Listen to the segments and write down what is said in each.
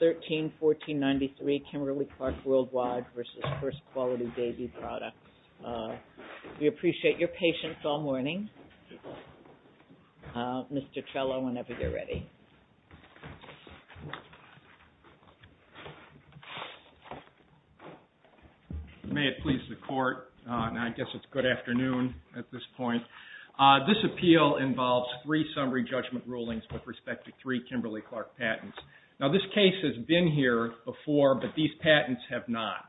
13-1493, Kimberly Clark Worldwide, Inc. v. First Quality Baby Products We appreciate your patience all morning. Mr. Trello, whenever you're ready. May it please the Court. I guess it's good afternoon at this point. This appeal involves three summary judgment rulings with respect to three Kimberly-Clark patents. Now this case has been here before, but these patents have not.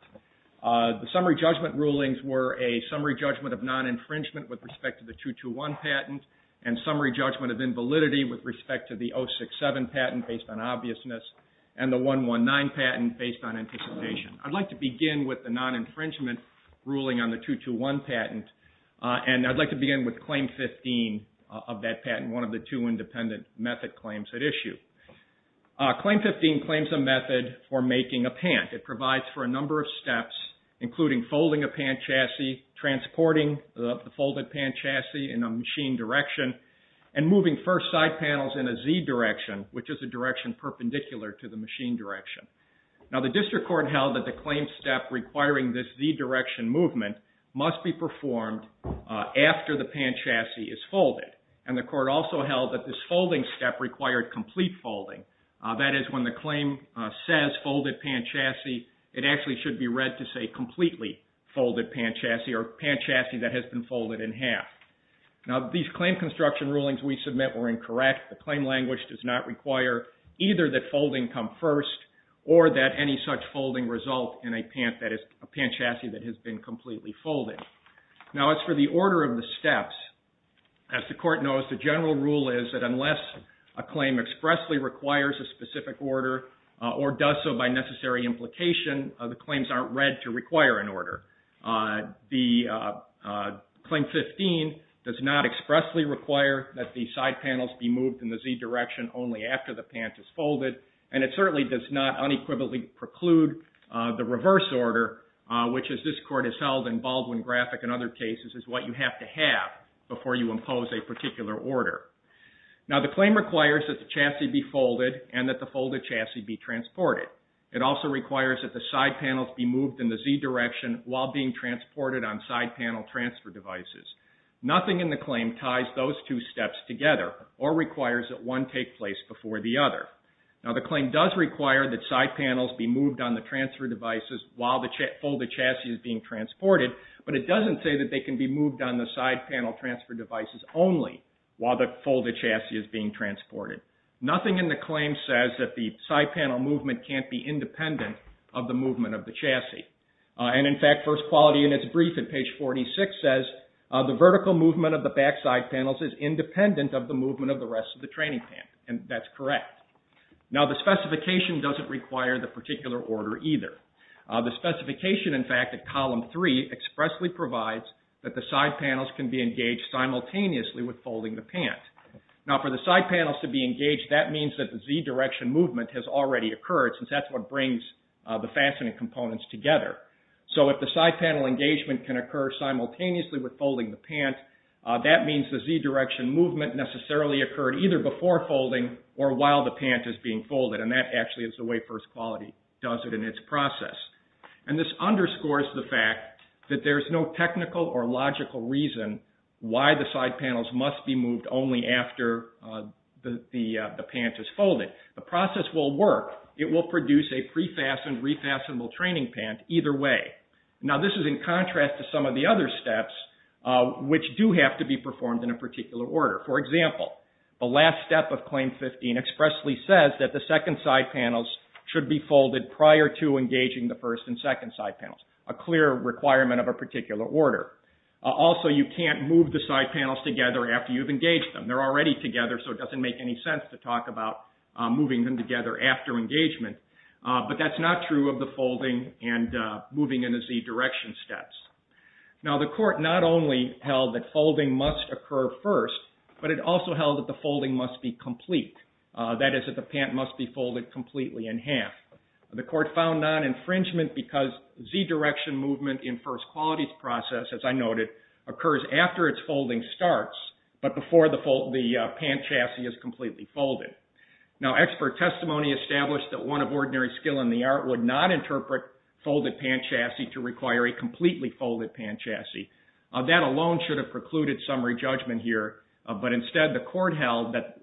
The summary judgment rulings were a summary judgment of non-infringement with respect to the 221 patent, and summary judgment of invalidity with respect to the 067 patent based on obviousness, and the 119 patent based on anticipation. I'd like to begin with the non-infringement ruling on the 221 patent, and I'd like to begin with Claim 15 of that patent, one of the two independent method claims at issue. Claim 15 claims a method for making a pant. It provides for a number of steps, including folding a pant chassis, transporting the folded pant chassis in a machine direction, and moving first side panels in a Z direction, which is a direction perpendicular to the machine direction. Now the District Court held that the claim step requiring this Z direction movement must be performed after the pant chassis is folded, and the Court also held that this folding step required complete folding. That is, when the claim says folded pant chassis, it actually should be read to say completely folded pant chassis, or pant chassis that has been folded in half. Now these claim construction rulings we submit were incorrect. The claim language does not require either that folding come first or that any such folding result in a pant chassis that has been completely folded. Now as for the order of the steps, as the Court knows, the general rule is that unless a claim expressly requires a specific order, or does so by necessary implication, the claims aren't read to require an order. Claim 15 does not expressly require that the side panels be moved in the Z direction only after the pant is folded, and it certainly does not unequivocally preclude the reverse order, which as this Court has held in Baldwin, Graphic, and other cases, is what you have to have before you impose a particular order. Now the claim requires that the chassis be folded and that the folded chassis be transported. It also requires that the side panels be moved in the Z direction while being transported on side panel transfer devices. Nothing in the claim ties those two steps together, or requires that one take place before the other. Now the claim does require that side panels be moved on the transfer devices while the folded chassis is being transported, but it doesn't say that they can be moved on the side panel transfer devices only while the folded chassis is being transported. Nothing in the claim says that the side panel movement can't be independent of the movement of the chassis. And in fact, First Quality in its brief at page 46 says, the vertical movement of the back side panels is independent of the movement of the rest of the training pant, and that's correct. Now the specification doesn't require the particular order either. The specification in fact at column 3 expressly provides that the side panels can be engaged simultaneously with folding the pant. Now for the side panels to be engaged, that means that the Z direction movement has already occurred, since that's what brings the fastening components together. So if the side panel engagement can occur simultaneously with folding the pant, that means the Z direction movement necessarily occurred either before folding or while the pant is being folded, and that actually is the way First Quality does it in its process. And this underscores the fact that there's no technical or logical reason why the side panels must be moved only after the pant is folded. The process will work. It will produce a pre-fastened, refastenable training pant either way. Now this is in contrast to some of the other steps, which do have to be performed in a particular order. For example, the last step of Claim 15 expressly says that the second side panels should be folded prior to engaging the first and second side panels, a clear requirement of a particular order. Also, you can't move the side panels together after you've engaged them. They're already together so it doesn't make any sense to talk about moving them together after engagement. But that's not true of the folding and moving in the Z direction steps. Now the court not only held that folding must occur first, but it also held that the folding must be complete. That is, that the pant must be folded completely in half. The court found non-infringement because Z direction movement in First Quality's process, as I noted, occurs after its folding starts but before the pant chassis is completely folded. Now expert testimony established that one of ordinary skill in the art would not interpret folded pant chassis to require a completely folded pant chassis. That alone should have precluded summary judgment here, but instead the court held that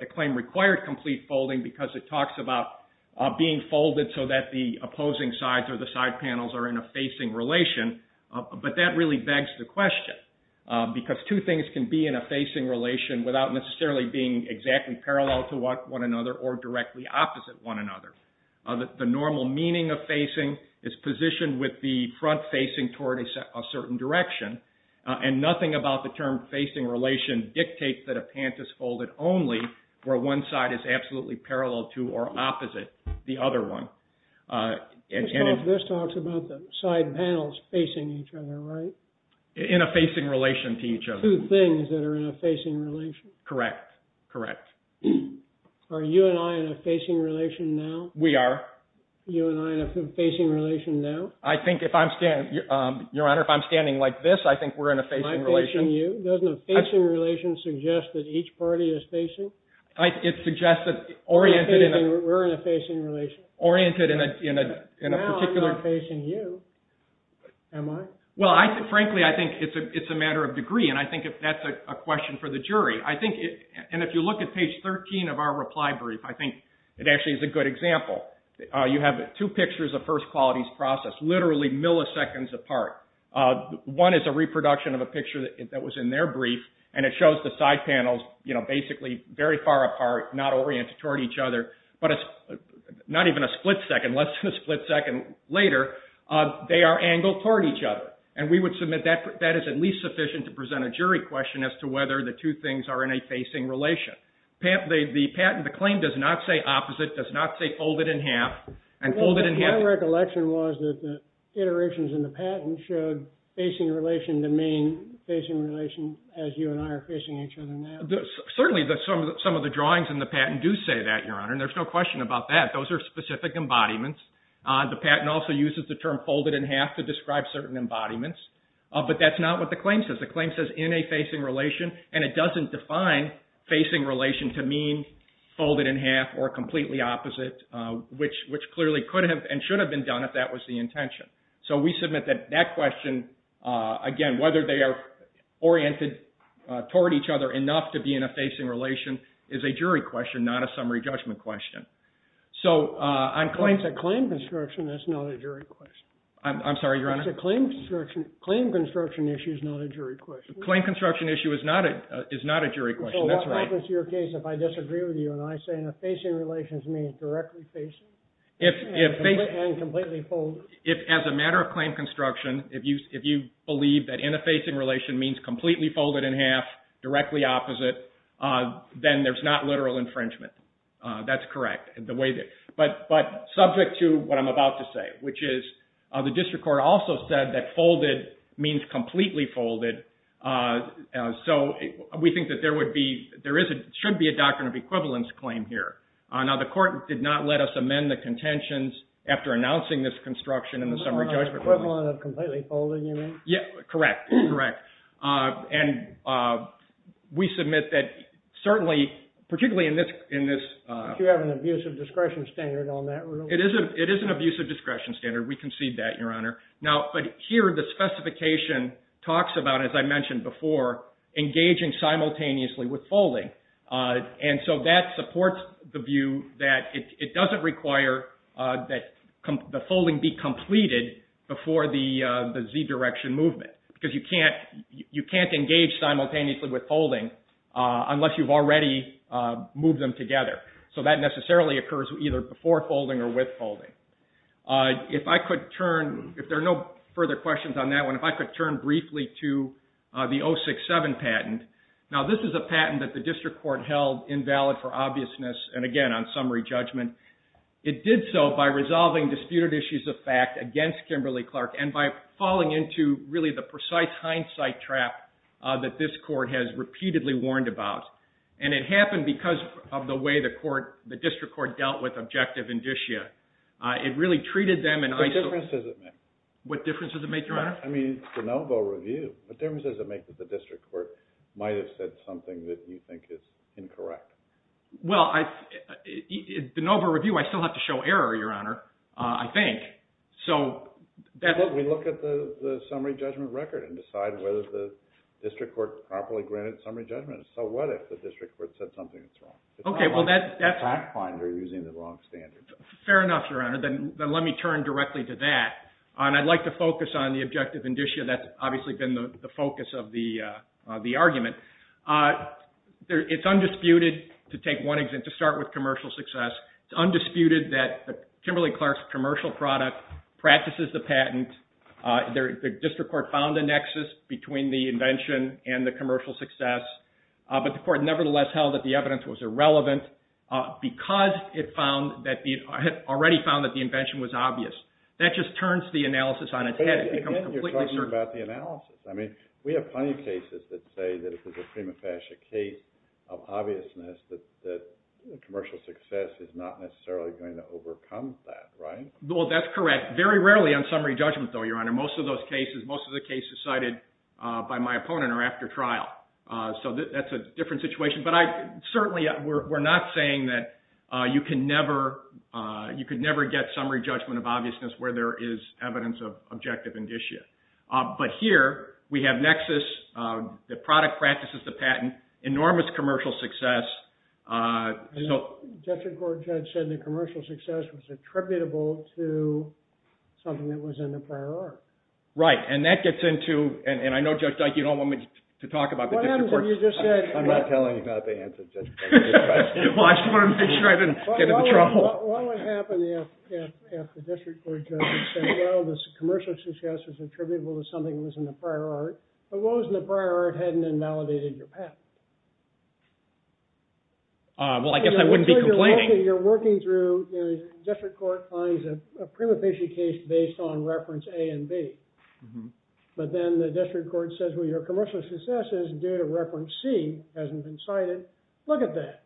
the claim required complete folding because it talks about being folded so that the opposing sides or the side panels are in a facing relation. But that really begs the question because two things can be in a facing relation without necessarily being exactly parallel to one another or directly opposite one another. The normal meaning of facing is positioned with the front facing toward a certain direction and nothing about the term facing relation dictates that a pant is folded only where one side is absolutely parallel to or opposite the other one. This talks about the side panels facing each other, right? In a facing relation to each other. Two things that are in a facing relation. Correct. Correct. Are you and I in a facing relation now? We are. You and I in a facing relation now? I think if I'm standing, Your Honor, if I'm standing like this, I think we're in a facing relation. Am I facing you? Doesn't a facing relation suggest that each party is facing? It suggests that oriented in a... We're in a facing relation. Oriented in a particular... Now I'm not facing you. Am I? Well, frankly, I think it's a matter of degree and I think that's a question for the jury. I think, and if you look at page 13 of our reply brief, I think it actually is a good example. You have two pictures of first qualities process, literally milliseconds apart. One is a reproduction of a picture that was in their brief and it shows the side panels, you know, basically very far apart, not oriented toward each other, but not even a split second, less than a split second later, they are angled toward each other. And we would submit that that is at least sufficient to present a jury question as to whether the two things are in a facing relation. The patent, the claim does not say opposite, does not say fold it in half and fold it in half... My recollection was that the iterations in the patent showed facing relation to mean facing relation as you and I are facing each other now. Certainly, some of the drawings in the patent do say that, Your Honor, and there's no question about that. Those are specific embodiments. The patent also uses the term folded in half to describe certain embodiments, but that's not what the claim says. The claim says in a facing relation and it doesn't define facing relation to mean folded in half or completely opposite, which clearly could have and should have been done if that was the intention. So we submit that that question, again, whether they are oriented toward each other enough to be in a facing relation is a jury question, not a summary judgment question. So I'm claiming... It's a claim construction, that's not a jury question. I'm sorry, Your Honor? It's a claim construction. Claim construction issue is not a jury question. Claim construction issue is not a jury question. That's right. What happens to your case if I disagree with you and I say in a facing relation means directly facing and completely folded? If as a matter of claim construction, if you believe that in a facing relation means completely folded in half, directly opposite, then there's not literal infringement. That's correct. The way that... But subject to what I'm about to say, which is the district court also said that folded means completely folded. So we think that there would be... There should be a doctrine of equivalence claim here. Now, the court did not let us amend the contentions after announcing this construction in the summary judgment. Equivalent of completely folded, you mean? Yeah, correct. Correct. And we submit that certainly, particularly in this... Do you have an abusive discretion standard on that rule? It is an abusive discretion standard. We concede that, Your Honor. Now, but here the specification talks about, as I mentioned before, engaging simultaneously with folding. And so that supports the view that it doesn't require that the folding be You can't engage simultaneously with folding unless you've already moved them together. So that necessarily occurs either before folding or with folding. If I could turn, if there are no further questions on that one, if I could turn briefly to the 067 patent. Now, this is a patent that the district court held invalid for obviousness, and again, on summary judgment. It did so by resolving disputed issues of fact against Kimberly-Clark, and by falling into really the precise hindsight trap that this court has repeatedly warned about. And it happened because of the way the court, the district court, dealt with Objective Indicia. It really treated them in... What difference does it make? What difference does it make, Your Honor? I mean, the Novo review. What difference does it make that the district court might have said something that you think is incorrect? Well, the Novo review, I still have to show error, Your Honor, I think. So that's... But we look at the summary judgment record and decide whether the district court properly granted summary judgment. So what if the district court said something that's wrong? Okay, well that's... It's not like the fact finder is using the wrong standards. Fair enough, Your Honor. Then let me turn directly to that. And I'd like to focus on the Objective Indicia. That's obviously been the focus of the argument. It's undisputed, to take one example, to start with commercial success, it's undisputed that Kimberly-Clark's commercial product practices the patent. The district court found a nexus between the invention and the commercial success. But the court nevertheless held that the evidence was irrelevant because it found that the... It had already found that the invention was obvious. That just turns the analysis on its head. It becomes completely certain. But then you're talking about the analysis. I mean, we have plenty of cases that say that if there's a prima facie case of obviousness that commercial success is not necessarily going to overcome that, right? Well, that's correct. Very rarely on summary judgment, though, Your Honor. Most of those cases, most of the cases cited by my opponent are after trial. So that's a different situation. But I certainly... We're not saying that you can never get summary judgment of obviousness where there is evidence of Objective Indicia. But here, we have nexus, the product practices the patent, enormous commercial success, so... District court judge said the commercial success was attributable to something that was in the prior art. Right. And that gets into... And I know, Judge Dyke, you don't want me to talk about the district court... What happens if you just said... I'm not telling you about the answer, Judge. I'm just asking. Well, I just wanted to make sure I didn't get into trouble. What would happen if the district court judge said, well, this commercial success is attributable to something that was in the prior art? But what was in the prior art hadn't invalidated your patent? Well, I guess I wouldn't be complaining. You're working through... District court finds a prima facie case based on reference A and B. But then the district court says, well, your commercial success is due to reference C, hasn't been cited. Look at that.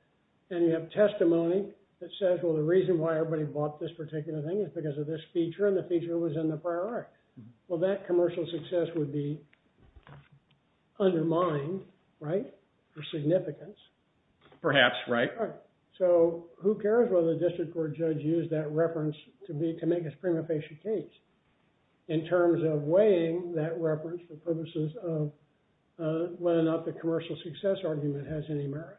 And you have testimony that says, well, the reason why everybody bought this particular thing is because of this feature, and the feature was in the prior art. Well, that commercial success would be undermined, right, for significance. Perhaps, right. So who cares whether the district court judge used that reference to make a prima facie case in terms of weighing that reference for purposes of whether or not the commercial success argument has any merit?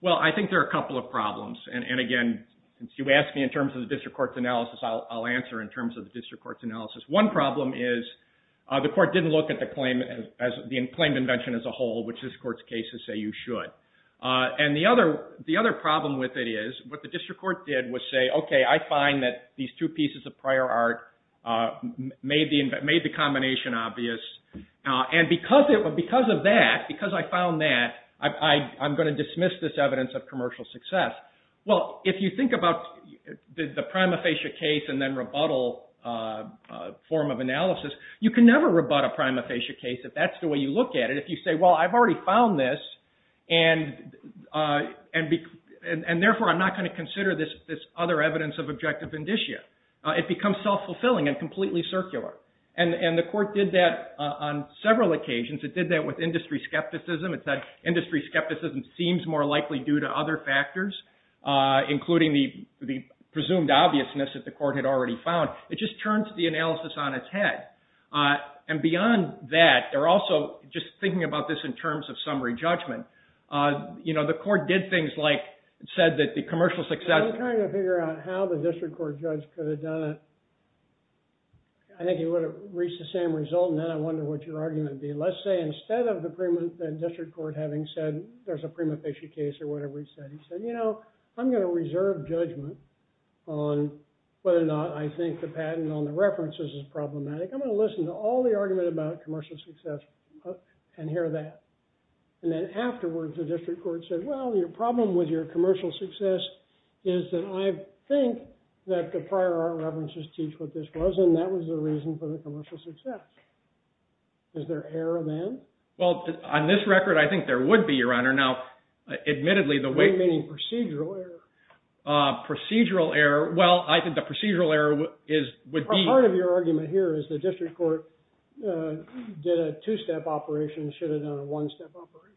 Well, I think there are a couple of problems. And again, since you asked me in terms of the district court's analysis, I'll answer in terms of the district court's analysis. One problem is the court didn't look at the claim as the claimed invention as a whole, which this court's cases say you should. And the other problem with it is what the district court did was say, OK, I find that these two pieces of prior art made the combination obvious. And because of that, because I found that, I'm going to dismiss this evidence of commercial success. Well, if you think about the prima facie case and then rebuttal form of analysis, you can never rebut a prima facie case if that's the way you look at it. If you say, well, I've already found this, and therefore, I'm not going to consider this other evidence of objective indicia. It becomes self-fulfilling and completely circular. And the court did that on several occasions. It did that with industry skepticism. It said industry skepticism seems more likely due to other factors, including the presumed obviousness that the court had already found. It just turns the analysis on its head. And beyond that, they're also just thinking about this in terms of summary judgment. The court did things like said that the commercial success. I'm trying to figure out how the district court judge could have done it. I think he would have reached the same result. And then I wonder what your argument would be. Let's say instead of the district court having said there's a prima facie case or whatever he said, he said, you know, I'm going to reserve judgment on whether or not I think the patent on the references is problematic. I'm going to listen to all the argument about commercial success and hear that. And then afterwards, the district court said, well, your problem with your commercial success is that I think that the prior art references teach what this was. And that was the reason for the commercial success. Is there error then? Well, on this record, I think there would be, Your Honor. Now, admittedly, the way- Meaning procedural error. Procedural error. Well, I think the procedural error would be- Part of your argument here is the district court did a two-step operation, should have done a one-step operation.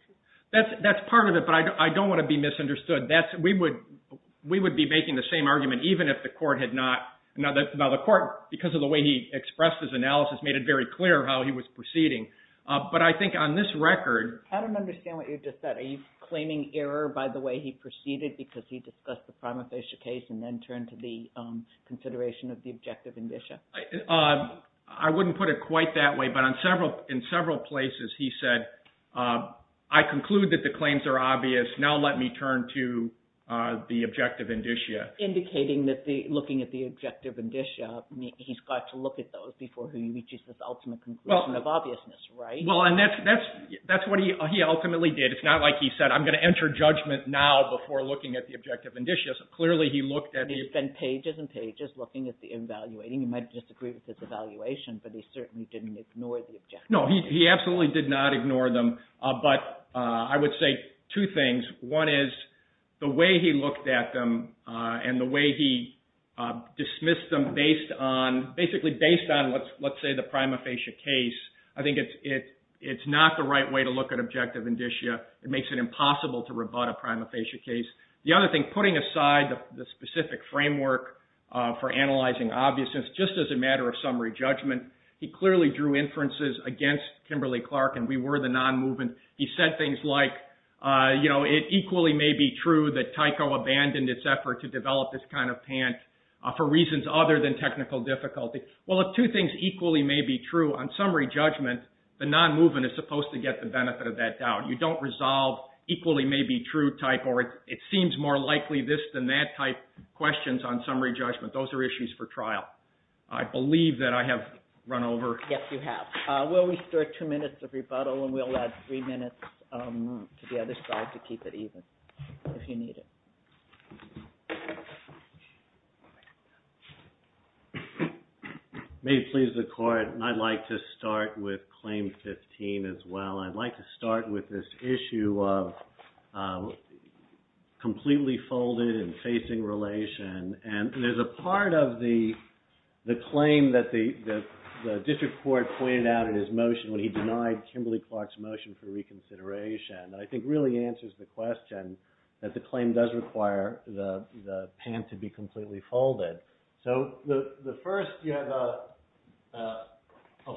That's part of it. But I don't want to be misunderstood. We would be making the same argument even if the court had not. Now, the court, because of the way he expressed his analysis, made it very clear how he was proceeding. But I think on this record- I don't understand what you just said. Are you claiming error by the way he proceeded because he discussed the prima facie case and then turned to the consideration of the objective indicia? I wouldn't put it quite that way. But in several places, he said, I conclude that the claims are obvious. Now, let me turn to the objective indicia. Indicating that looking at the objective indicia, he's got to look at those before he reaches this ultimate conclusion of obviousness, right? Well, and that's what he ultimately did. It's not like he said, I'm going to enter judgment now before looking at the objective indicia. Clearly, he looked at the- He spent pages and pages looking at the evaluating. You might disagree with his evaluation, but he certainly didn't ignore the objective indicia. No, he absolutely did not ignore them. But I would say two things. One is the way he looked at them and the way he dismissed them based on, basically based on, let's say the prima facie case. I think it's not the right way to look at objective indicia. It makes it impossible to rebut a prima facie case. The other thing, putting aside the specific framework for analyzing obviousness, just as a matter of summary judgment, he clearly drew inferences against Kimberly-Clark and we were the non-movement. He said things like, it equally may be true that Tyco abandoned its effort to develop this kind of pant for reasons other than technical difficulty. Well, if two things equally may be true, on summary judgment, the non-movement is supposed to get the benefit of that doubt. You don't resolve equally may be true type or it seems more likely this than that type questions on summary judgment. Those are issues for trial. I believe that I have run over. Yes, you have. Will we start two minutes of rebuttal and we'll add three minutes to the other side to keep it even if you need it. May it please the court, I'd like to start with claim 15 as well. I'd like to start with this issue of completely folded and facing relation. And there's a part of the claim that the district court pointed out in his motion when he denied Kimberly-Clark's motion for reconsideration that I think really answers the question that the claim does require the pant to be completely folded. So the first, you have a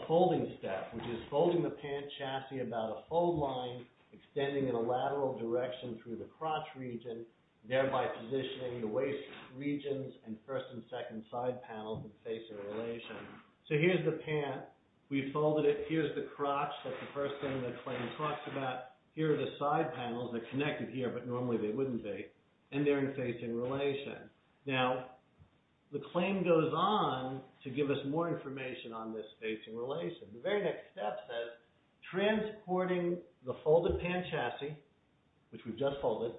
folding step, which is folding the pant chassis about a fold line, extending in a lateral direction through the crotch region, thereby positioning the waist regions and first and second side panels and facing relation. So here's the pant. We folded it. Here's the crotch. That's the first thing the claim talks about. Here are the side panels. They're connected here, but normally they wouldn't be. And they're in facing relation. Now, the claim goes on to give us more information on this facing relation. The very next step says, transporting the folded pant chassis, which we've just folded,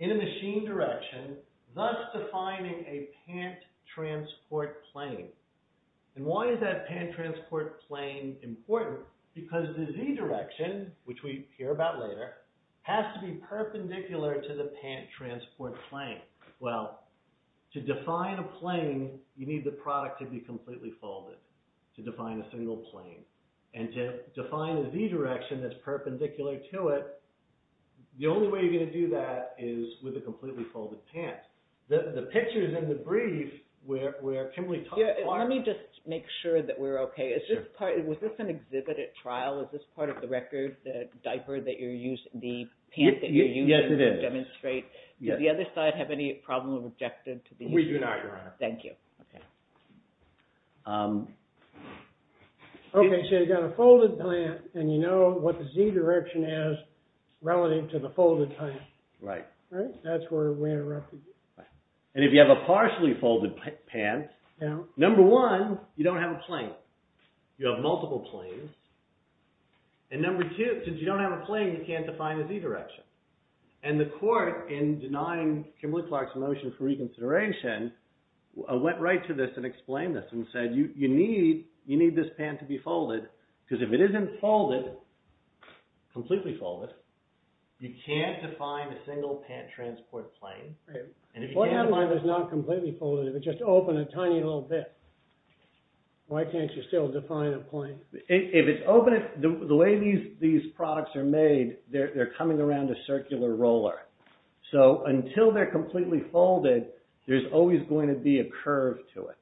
in a machine direction, thus defining a pant transport plane. And why is that pant transport plane important? Because the Z direction, which we hear about later, has to be perpendicular to the pant transport plane. Well, to define a plane, you need the product to be completely folded to define a single plane. And to define a Z direction that's perpendicular to it, the only way you're gonna do that is with a completely folded pant. The pictures in the brief where Kimberley talked about- Let me just make sure that we're okay. Was this an exhibited trial? Is this part of the record, the diaper that you're using, the pant that you're using to demonstrate? Did the other side have any problem with rejecting to the- We do not, Your Honor. Thank you. Okay, so you've got a folded pant, and you know what the Z direction is relative to the folded pant. Right. That's where we interrupted you. And if you have a partially folded pant, number one, you don't have a plane. You have multiple planes. And number two, since you don't have a plane, you can't define a Z direction. And the court, in denying Kimberley Clark's motion for reconsideration, went right to this and explained this and said, you need this pant to be folded, because if it isn't folded, completely folded, you can't define a single pant transport plane. And if you can- Well, I have mine that's not completely folded. If it's just open a tiny little bit, why can't you still define a plane? If it's open, the way these products are made, they're coming around a circular roller. So until they're completely folded, there's always going to be a curve to it.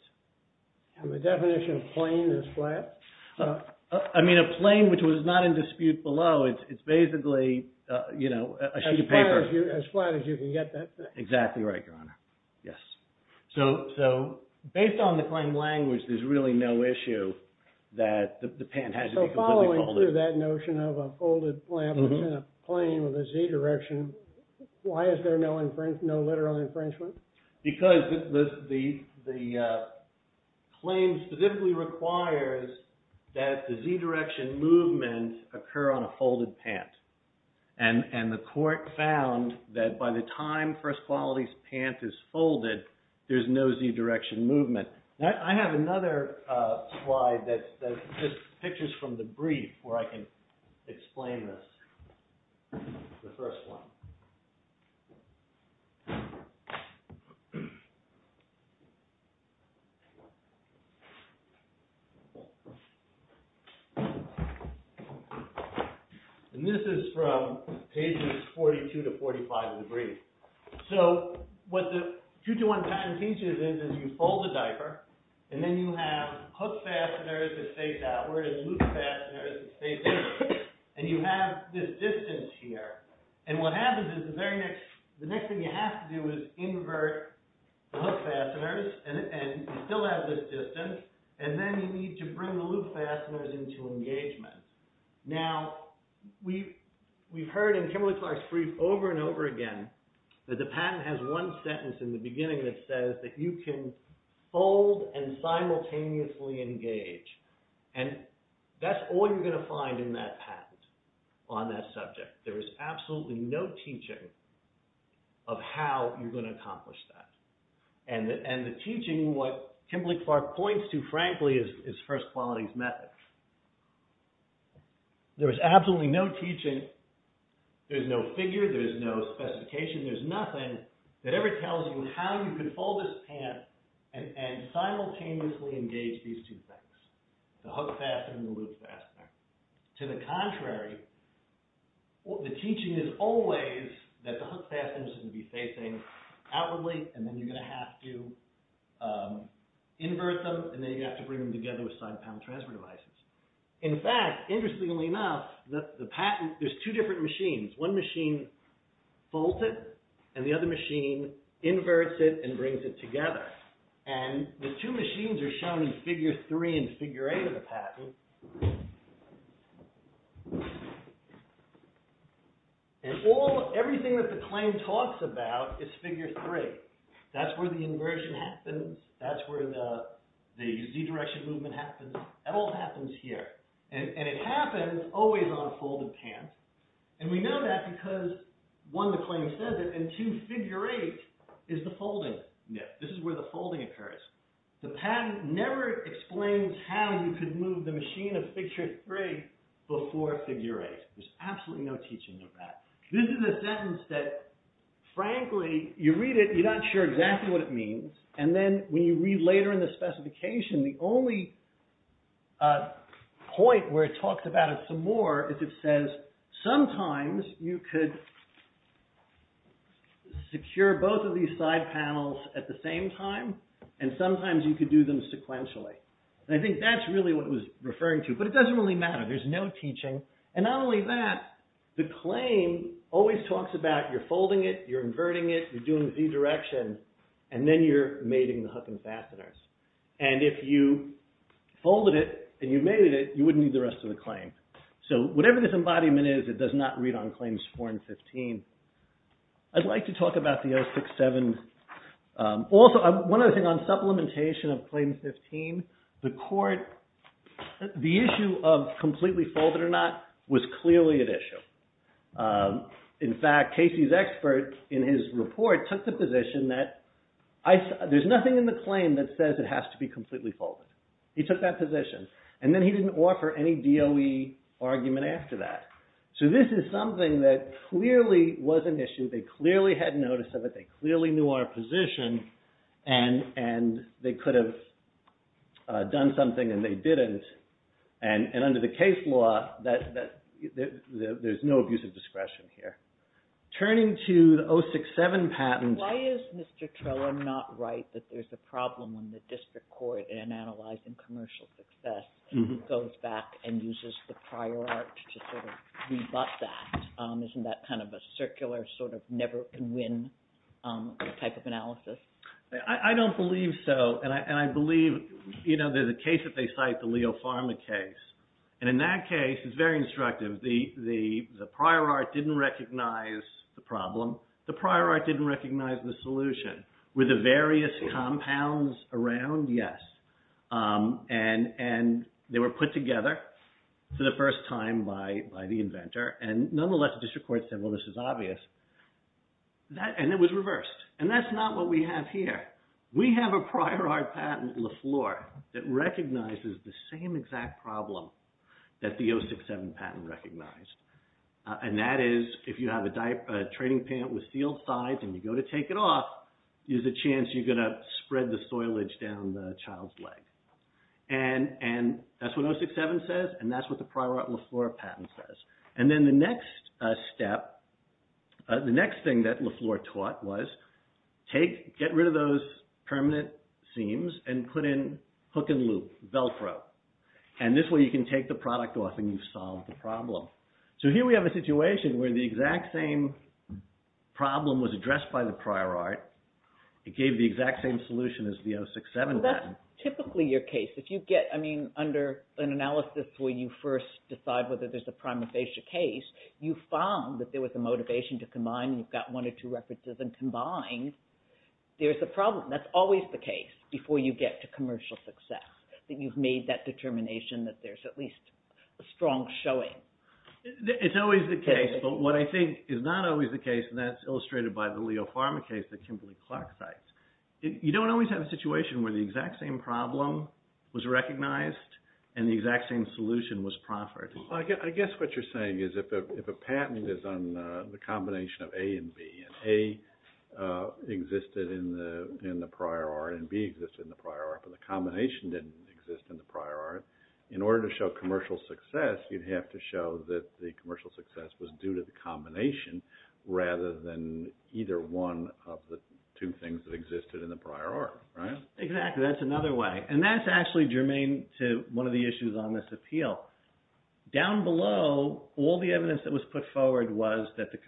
And the definition of plane is flat? I mean, a plane which was not in dispute below, it's basically, you know, a sheet of paper. As flat as you can get that thing. Exactly right, Your Honor. Yes. So based on the claim language, there's really no issue that the pant has to be completely folded. So following through that notion of a folded plant within a plane with a Z direction, why is there no literal infringement? Because the claim specifically requires that the Z direction movement occur on a folded pant. And the court found that by the time First Quality's pant is folded, there's no Z direction movement. Now I have another slide that's just pictures from the brief where I can explain this, the first one. And this is from pages 42 to 45 of the brief. So what the 221 patent teaches is, is you fold the diaper, and then you have hook fasteners that face outward and loop fasteners that face inward. And you have this distance here. And what happens is the very next, the next thing you have to do is invert the hook fasteners and still have this distance. And then you need to bring the loop fasteners into engagement. Now we've heard in Kimberly-Clark's brief over and over again, that the patent has one sentence in the beginning that says that you can fold and simultaneously engage. And that's all you're gonna find in that patent on that subject. There is absolutely no teaching of how you're gonna accomplish that. And the teaching, what Kimberly-Clark points to, frankly, is First Quality's method. There is absolutely no teaching, there's no figure, there's no specification, there's nothing that ever tells you how you can fold this pant and simultaneously engage these two things, the hook fastener and the loop fastener. To the contrary, the teaching is always that the hook fasteners are gonna be facing outwardly, and then you're gonna have to invert them, and then you have to bring them together with side panel transfer devices. In fact, interestingly enough, the patent, there's two different machines. One machine folds it, and the other machine inverts it and brings it together. And the two machines are shown in figure three and figure eight of the patent. And everything that the claim talks about is figure three. That's where the inversion happens, that's where the Z-direction movement happens, that all happens here. And it happens always on a folded pant. And we know that because, one, the claim says it, and two, figure eight is the folding. This is where the folding occurs. The patent never explains how you could move the machine of figure three before figure eight. There's absolutely no teaching of that. This is a sentence that, frankly, you read it, you're not sure exactly what it means, and then when you read later in the specification, the only point where it talks about it some more is it says, sometimes you could secure both of these side panels at the same time, and sometimes you could do them sequentially. And I think that's really what it was referring to. But it doesn't really matter, there's no teaching. And not only that, the claim always talks about you're folding it, you're inverting it, you're doing Z-direction, and then you're mating the hook and fasteners. And if you folded it and you mated it, you wouldn't need the rest of the claim. So whatever this embodiment is, it does not read on claims four and 15. I'd like to talk about the 067. Also, one other thing, on supplementation of claim 15, the court, the issue of completely folded or not was clearly at issue. In fact, Casey's expert, in his report, took the position that there's nothing in the claim that says it has to be completely folded. He took that position. And then he didn't offer any DOE argument after that. So this is something that clearly was an issue, they clearly had notice of it, they clearly knew our position, and they could have done something and they didn't. And under the case law, there's no abuse of discretion here. Turning to the 067 patent. Why is Mr. Trella not right that there's a problem when the district court, in analyzing commercial success, goes back and uses the prior art to sort of rebut that? Isn't that kind of a circular, sort of never can win type of analysis? I don't believe so. And I believe, you know, there's a case that they cite, the Leo Pharma case. And in that case, it's very instructive. The prior art didn't recognize the problem. The prior art didn't recognize the solution. Were the various compounds around? Yes. And they were put together for the first time by the inventor. And nonetheless, the district court said, well, this is obvious. And it was reversed. And that's not what we have here. We have a prior art patent, Lafleur, that recognizes the same exact problem that the 067 patent recognized. And that is, if you have a training pant with sealed sides and you go to take it off, there's a chance you're gonna spread the soilage down the child's leg. And that's what 067 says, and that's what the prior art Lafleur patent says. And then the next step, the next thing that Lafleur taught was, take, get rid of those permanent seams and put in hook and loop, Velcro. And this way you can take the product off and you've solved the problem. So here we have a situation where the exact same problem was addressed by the prior art. It gave the exact same solution as the 067 patent. Well, that's typically your case. If you get, I mean, under an analysis where you first decide whether there's a prima facie case, you found that there was a motivation to combine and you've got one or two references and combined, there's a problem. That's always the case before you get to commercial success, that you've made that determination that there's at least a strong showing. It's always the case, but what I think is not always the case, and that's illustrated by the Leo Pharma case that Kimberly-Clark cites. You don't always have a situation where the exact same problem was recognized and the exact same solution was proffered. I guess what you're saying is if a patent is on the combination of A and B, and A existed in the prior art and B existed in the prior art, but the combination didn't exist in the prior art, in order to show commercial success, you'd have to show that the commercial success was due to the combination rather than either one of the two things that existed in the prior art, right? Exactly, that's another way. And that's actually germane to one of the issues on this appeal. Down below, all the evidence that was put forward was that the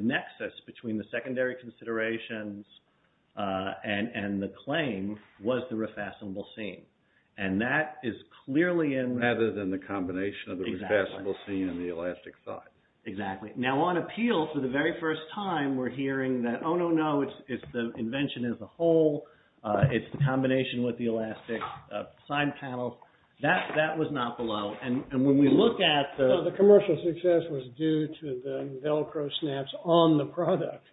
nexus between the secondary considerations and the claim was the refastenable seam. And that is clearly in- Rather than the combination of the refastenable seam and the elastic side. Exactly, now on appeal, for the very first time, we're hearing that, oh no, no, it's the invention as a whole, it's the combination with the elastic side panels. That was not below, and when we look at the- The commercial success was due to the Velcro snaps on the product,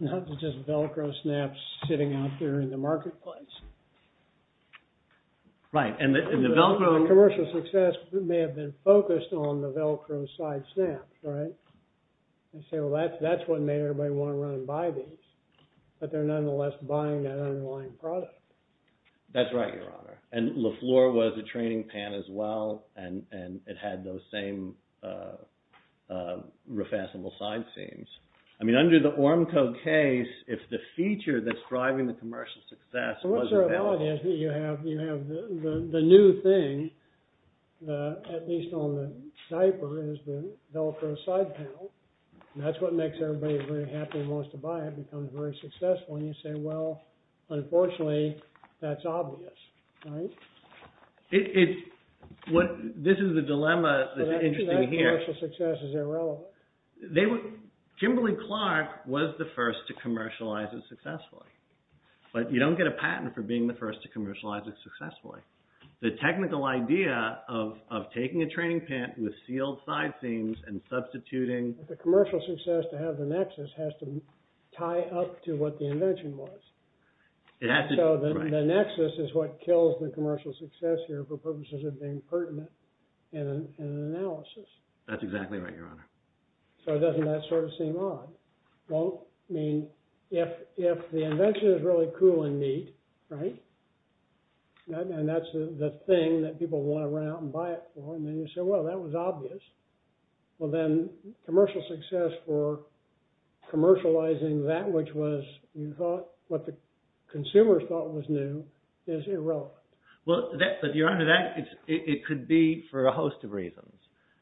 not just Velcro snaps sitting out there in the marketplace. Right, and the Velcro- The commercial success may have been focused on the Velcro side snaps, right? And so that's what made everybody wanna run and buy these. But they're nonetheless buying that underlying product. That's right, your honor. And LeFleur was a training pan as well, and it had those same refastenable side seams. I mean, under the Ormco case, if the feature that's driving the commercial success was Velcro- So what's the reality is that you have the new thing, at least on the diaper, is the Velcro side panel, and that's what makes everybody very happy and wants to buy it, becomes very successful, and you say, well, unfortunately, that's obvious, right? This is the dilemma that's interesting here. So that commercial success is irrelevant. They were, Kimberly Clark was the first to commercialize it successfully. But you don't get a patent for being the first to commercialize it successfully. The technical idea of taking a training pan with sealed side seams and substituting- The commercial success to have the nexus has to tie up to what the invention was. It has to- So the nexus is what kills the commercial success here for purposes of being pertinent in an analysis. That's exactly right, Your Honor. So doesn't that sort of seem odd? Well, I mean, if the invention is really cool and neat, right, and that's the thing that people wanna run out and buy it for, and then you say, well, that was obvious, well, then commercial success for commercializing that which was, you thought, what the consumers thought was new is irrelevant. Well, Your Honor, it could be for a host of reasons.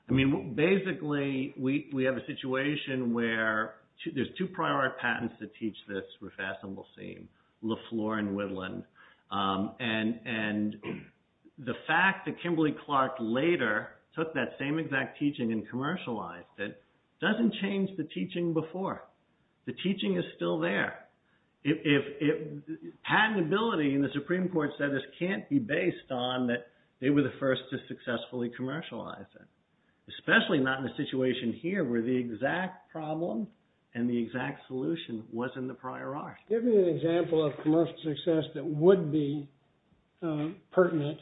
Basically, we have a situation where there's two prior patents that teach this refashionable seam, LaFleur and Witteland, and the fact that Kimberly Clark later took that same exact teaching and commercialized it doesn't change the teaching before. The teaching is still there. Patentability in the Supreme Court said this can't be based on that they were the first to successfully commercialize it, especially not in a situation here where the exact problem and the exact solution was in the prior art. Give me an example of commercial success that would be pertinent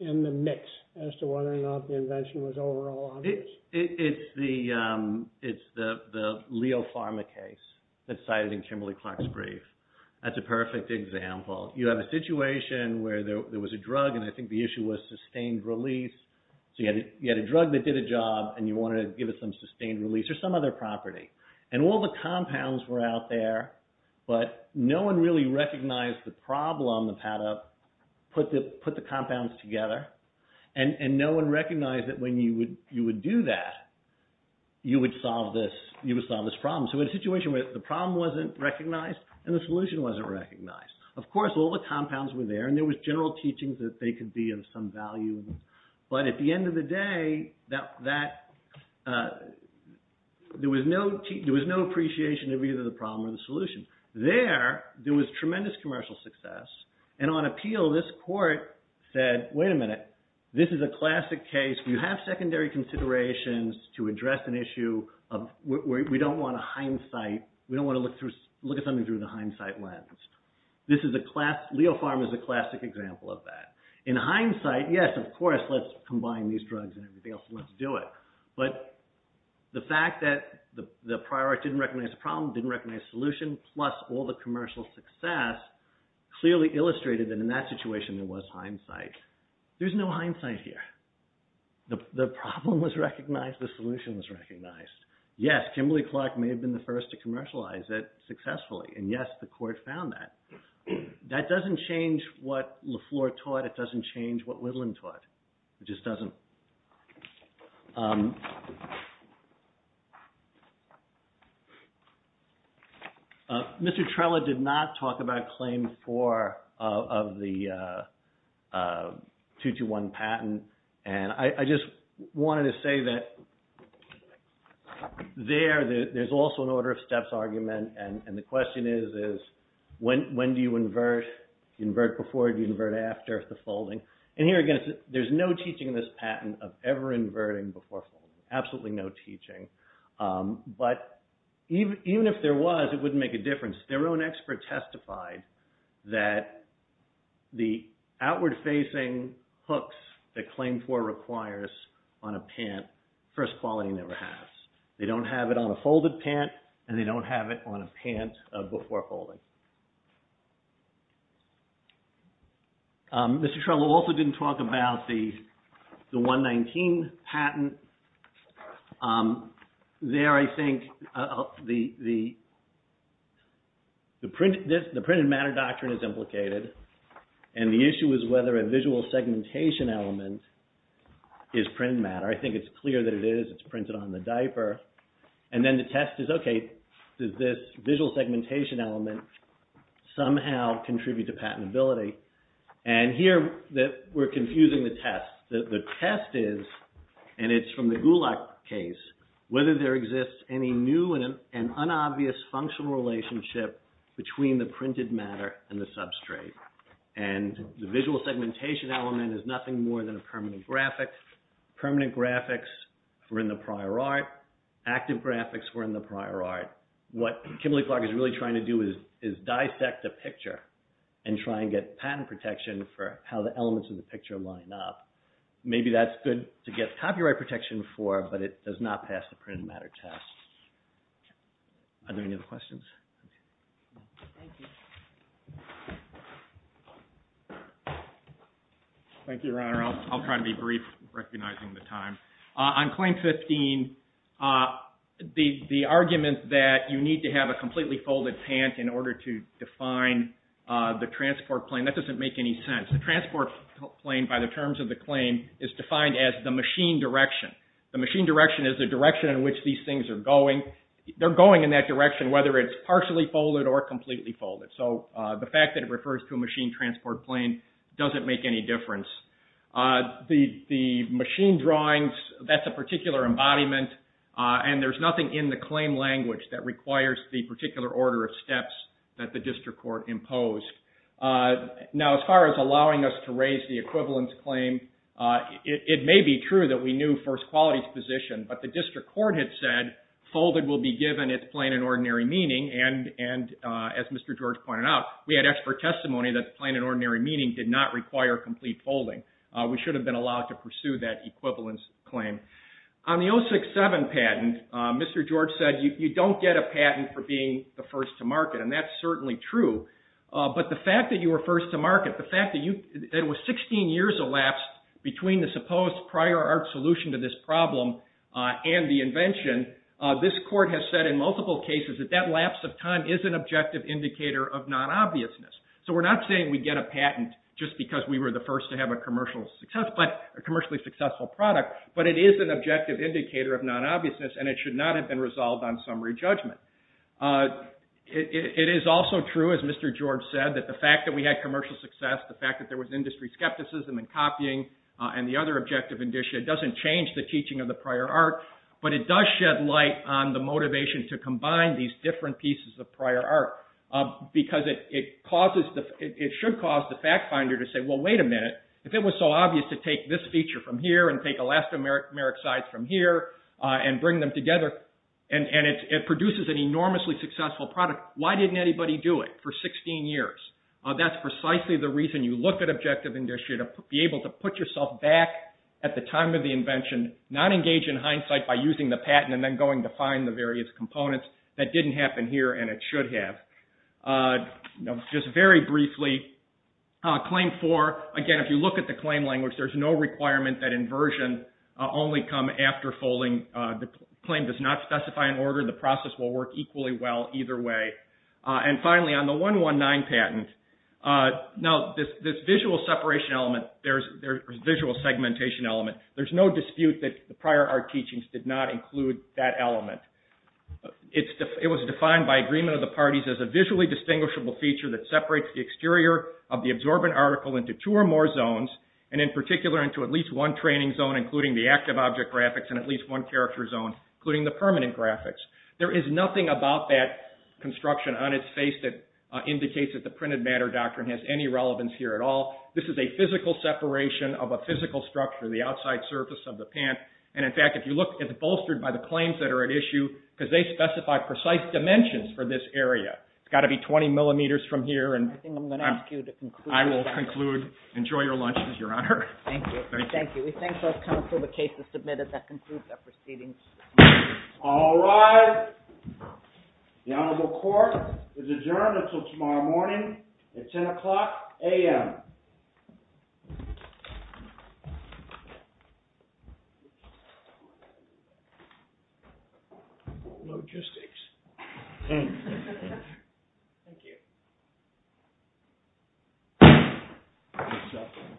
in the mix as to whether or not the invention was overall obvious. It's the Leo Pharma case that's cited in Kimberly Clark's brief. That's a perfect example. You have a situation where there was a drug, and I think the issue was sustained release. So you had a drug that did a job, and you wanted to give it some sustained release or some other property, and all the compounds were out there, but no one really recognized the problem of how to put the compounds together, and no one recognized that when you would do that, you would solve this problem. So a situation where the problem wasn't recognized and the solution wasn't recognized. Of course, all the compounds were there, and there was general teachings that they could be of some value, but at the end of the day, there was no appreciation of either the problem or the solution. There, there was tremendous commercial success, and on appeal, this court said, wait a minute, this is a classic case. We have secondary considerations to address an issue where we don't wanna hindsight, we don't wanna look at something through the hindsight lens. This is a class, Leofarm is a classic example of that. In hindsight, yes, of course, let's combine these drugs and everything else, and let's do it, but the fact that the prior didn't recognize the problem, didn't recognize the solution, plus all the commercial success clearly illustrated that in that situation, there was hindsight. There's no hindsight here. The problem was recognized, the solution was recognized. Yes, Kimberly Clark may have been the first to commercialize it successfully, and yes, the court found that. That doesn't change what LaFleur taught. It doesn't change what Whitlam taught. It just doesn't. Mr. Trella did not talk about claim four of the 221 patent, and I just wanted to say that there, there's also an order of steps argument, and the question is, is when do you invert? Do you invert before, do you invert after the folding? And here, again, there's no teaching in this patent of ever inverting before folding, absolutely no teaching, but even if there was, it wouldn't make a difference. Their own expert testified that the outward-facing hooks that claim four requires on a pant, first quality never has. They don't have it on a folded pant, and they don't have it on a pant before folding. Mr. Trella also didn't talk about the 119 patent. There, I think, the printed matter doctrine is implicated, and the issue is whether a visual segmentation element is printed matter. I think it's clear that it is. It's printed on the diaper, and then the test is, okay, does this visual segmentation element somehow contribute to patentability? And here, we're confusing the test. The test is, and it's from the Gulak case, whether there exists any new and unobvious functional relationship between the printed matter and the substrate, and the visual segmentation element is nothing more than a permanent graphic. Permanent graphics were in the prior art. Active graphics were in the prior art. What Kimberly Clark is really trying to do is dissect the picture and try and get patent protection for how the elements of the picture line up. Maybe that's good to get copyright protection for, but it does not pass the printed matter test. Are there any other questions? Thank you. Thank you. Thank you, Your Honor. I'll try to be brief, recognizing the time. On Claim 15, the argument that you need to have a completely folded pant in order to define the transport plane, that doesn't make any sense. The transport plane, by the terms of the claim, is defined as the machine direction. The machine direction is the direction in which these things are going. They're going in that direction, whether it's partially folded or completely folded. The fact that it refers to a machine transport plane doesn't make any difference. The machine drawings, that's a particular embodiment, and there's nothing in the claim language that requires the particular order of steps that the district court imposed. Now, as far as allowing us to raise the equivalence claim, it may be true that we knew first quality's position, but the district court had said, folded will be given its plain and ordinary meaning, and as Mr. George pointed out, we had expert testimony that plain and ordinary meaning did not require complete folding. We should have been allowed to pursue that equivalence claim. On the 067 patent, Mr. George said, you don't get a patent for being the first to market, and that's certainly true. But the fact that you were first to market, the fact that it was 16 years elapsed between the supposed prior art solution to this problem and the invention, this court has said in multiple cases that that lapse of time is an objective indicator of non-obviousness. So we're not saying we get a patent just because we were the first to have a commercially successful product, but it is an objective indicator of non-obviousness, and it should not have been resolved on summary judgment. It is also true, as Mr. George said, that the fact that we had commercial success, the fact that there was industry skepticism in copying, and the other objective, it doesn't change the teaching of the prior art, but it does shed light on the motivation to combine these different pieces of prior art, because it should cause the fact finder to say, well, wait a minute, if it was so obvious to take this feature from here, and take elastomeric sides from here, and bring them together, and it produces an enormously successful product, why didn't anybody do it for 16 years? That's precisely the reason you look at objective industry, to be able to put yourself back at the time of the invention, not engage in hindsight by using the patent, and then going to find the various components, that didn't happen here, and it should have. Just very briefly, claim four, again, if you look at the claim language, there's no requirement that inversion only come after folding, the claim does not specify an order, the process will work equally well either way, and finally, on the 119 patent, now, this visual separation element, there's visual segmentation element, there's no dispute that the prior art teachings did not include that element. It was defined by agreement of the parties as a visually distinguishable feature that separates the exterior of the absorbent article into two or more zones, and in particular, into at least one training zone, including the active object graphics, and at least one character zone, including the permanent graphics. There is nothing about that construction on its face that indicates that the printed matter doctrine this is a physical separation of a physical structure, the outside surface of the pant, and in fact, if you look, it's bolstered by the claims that are at issue, because they specify precise dimensions for this area. It's gotta be 20 millimeters from here, and I think I'm gonna ask you to conclude. I will conclude, enjoy your lunch, Your Honor. Thank you. Thank you, we thank both counsel for the cases submitted that conclude the proceedings. All rise, the Honorable Court is adjourned until tomorrow morning at 10 o'clock a.m. Thank you. Logistics. Thank you.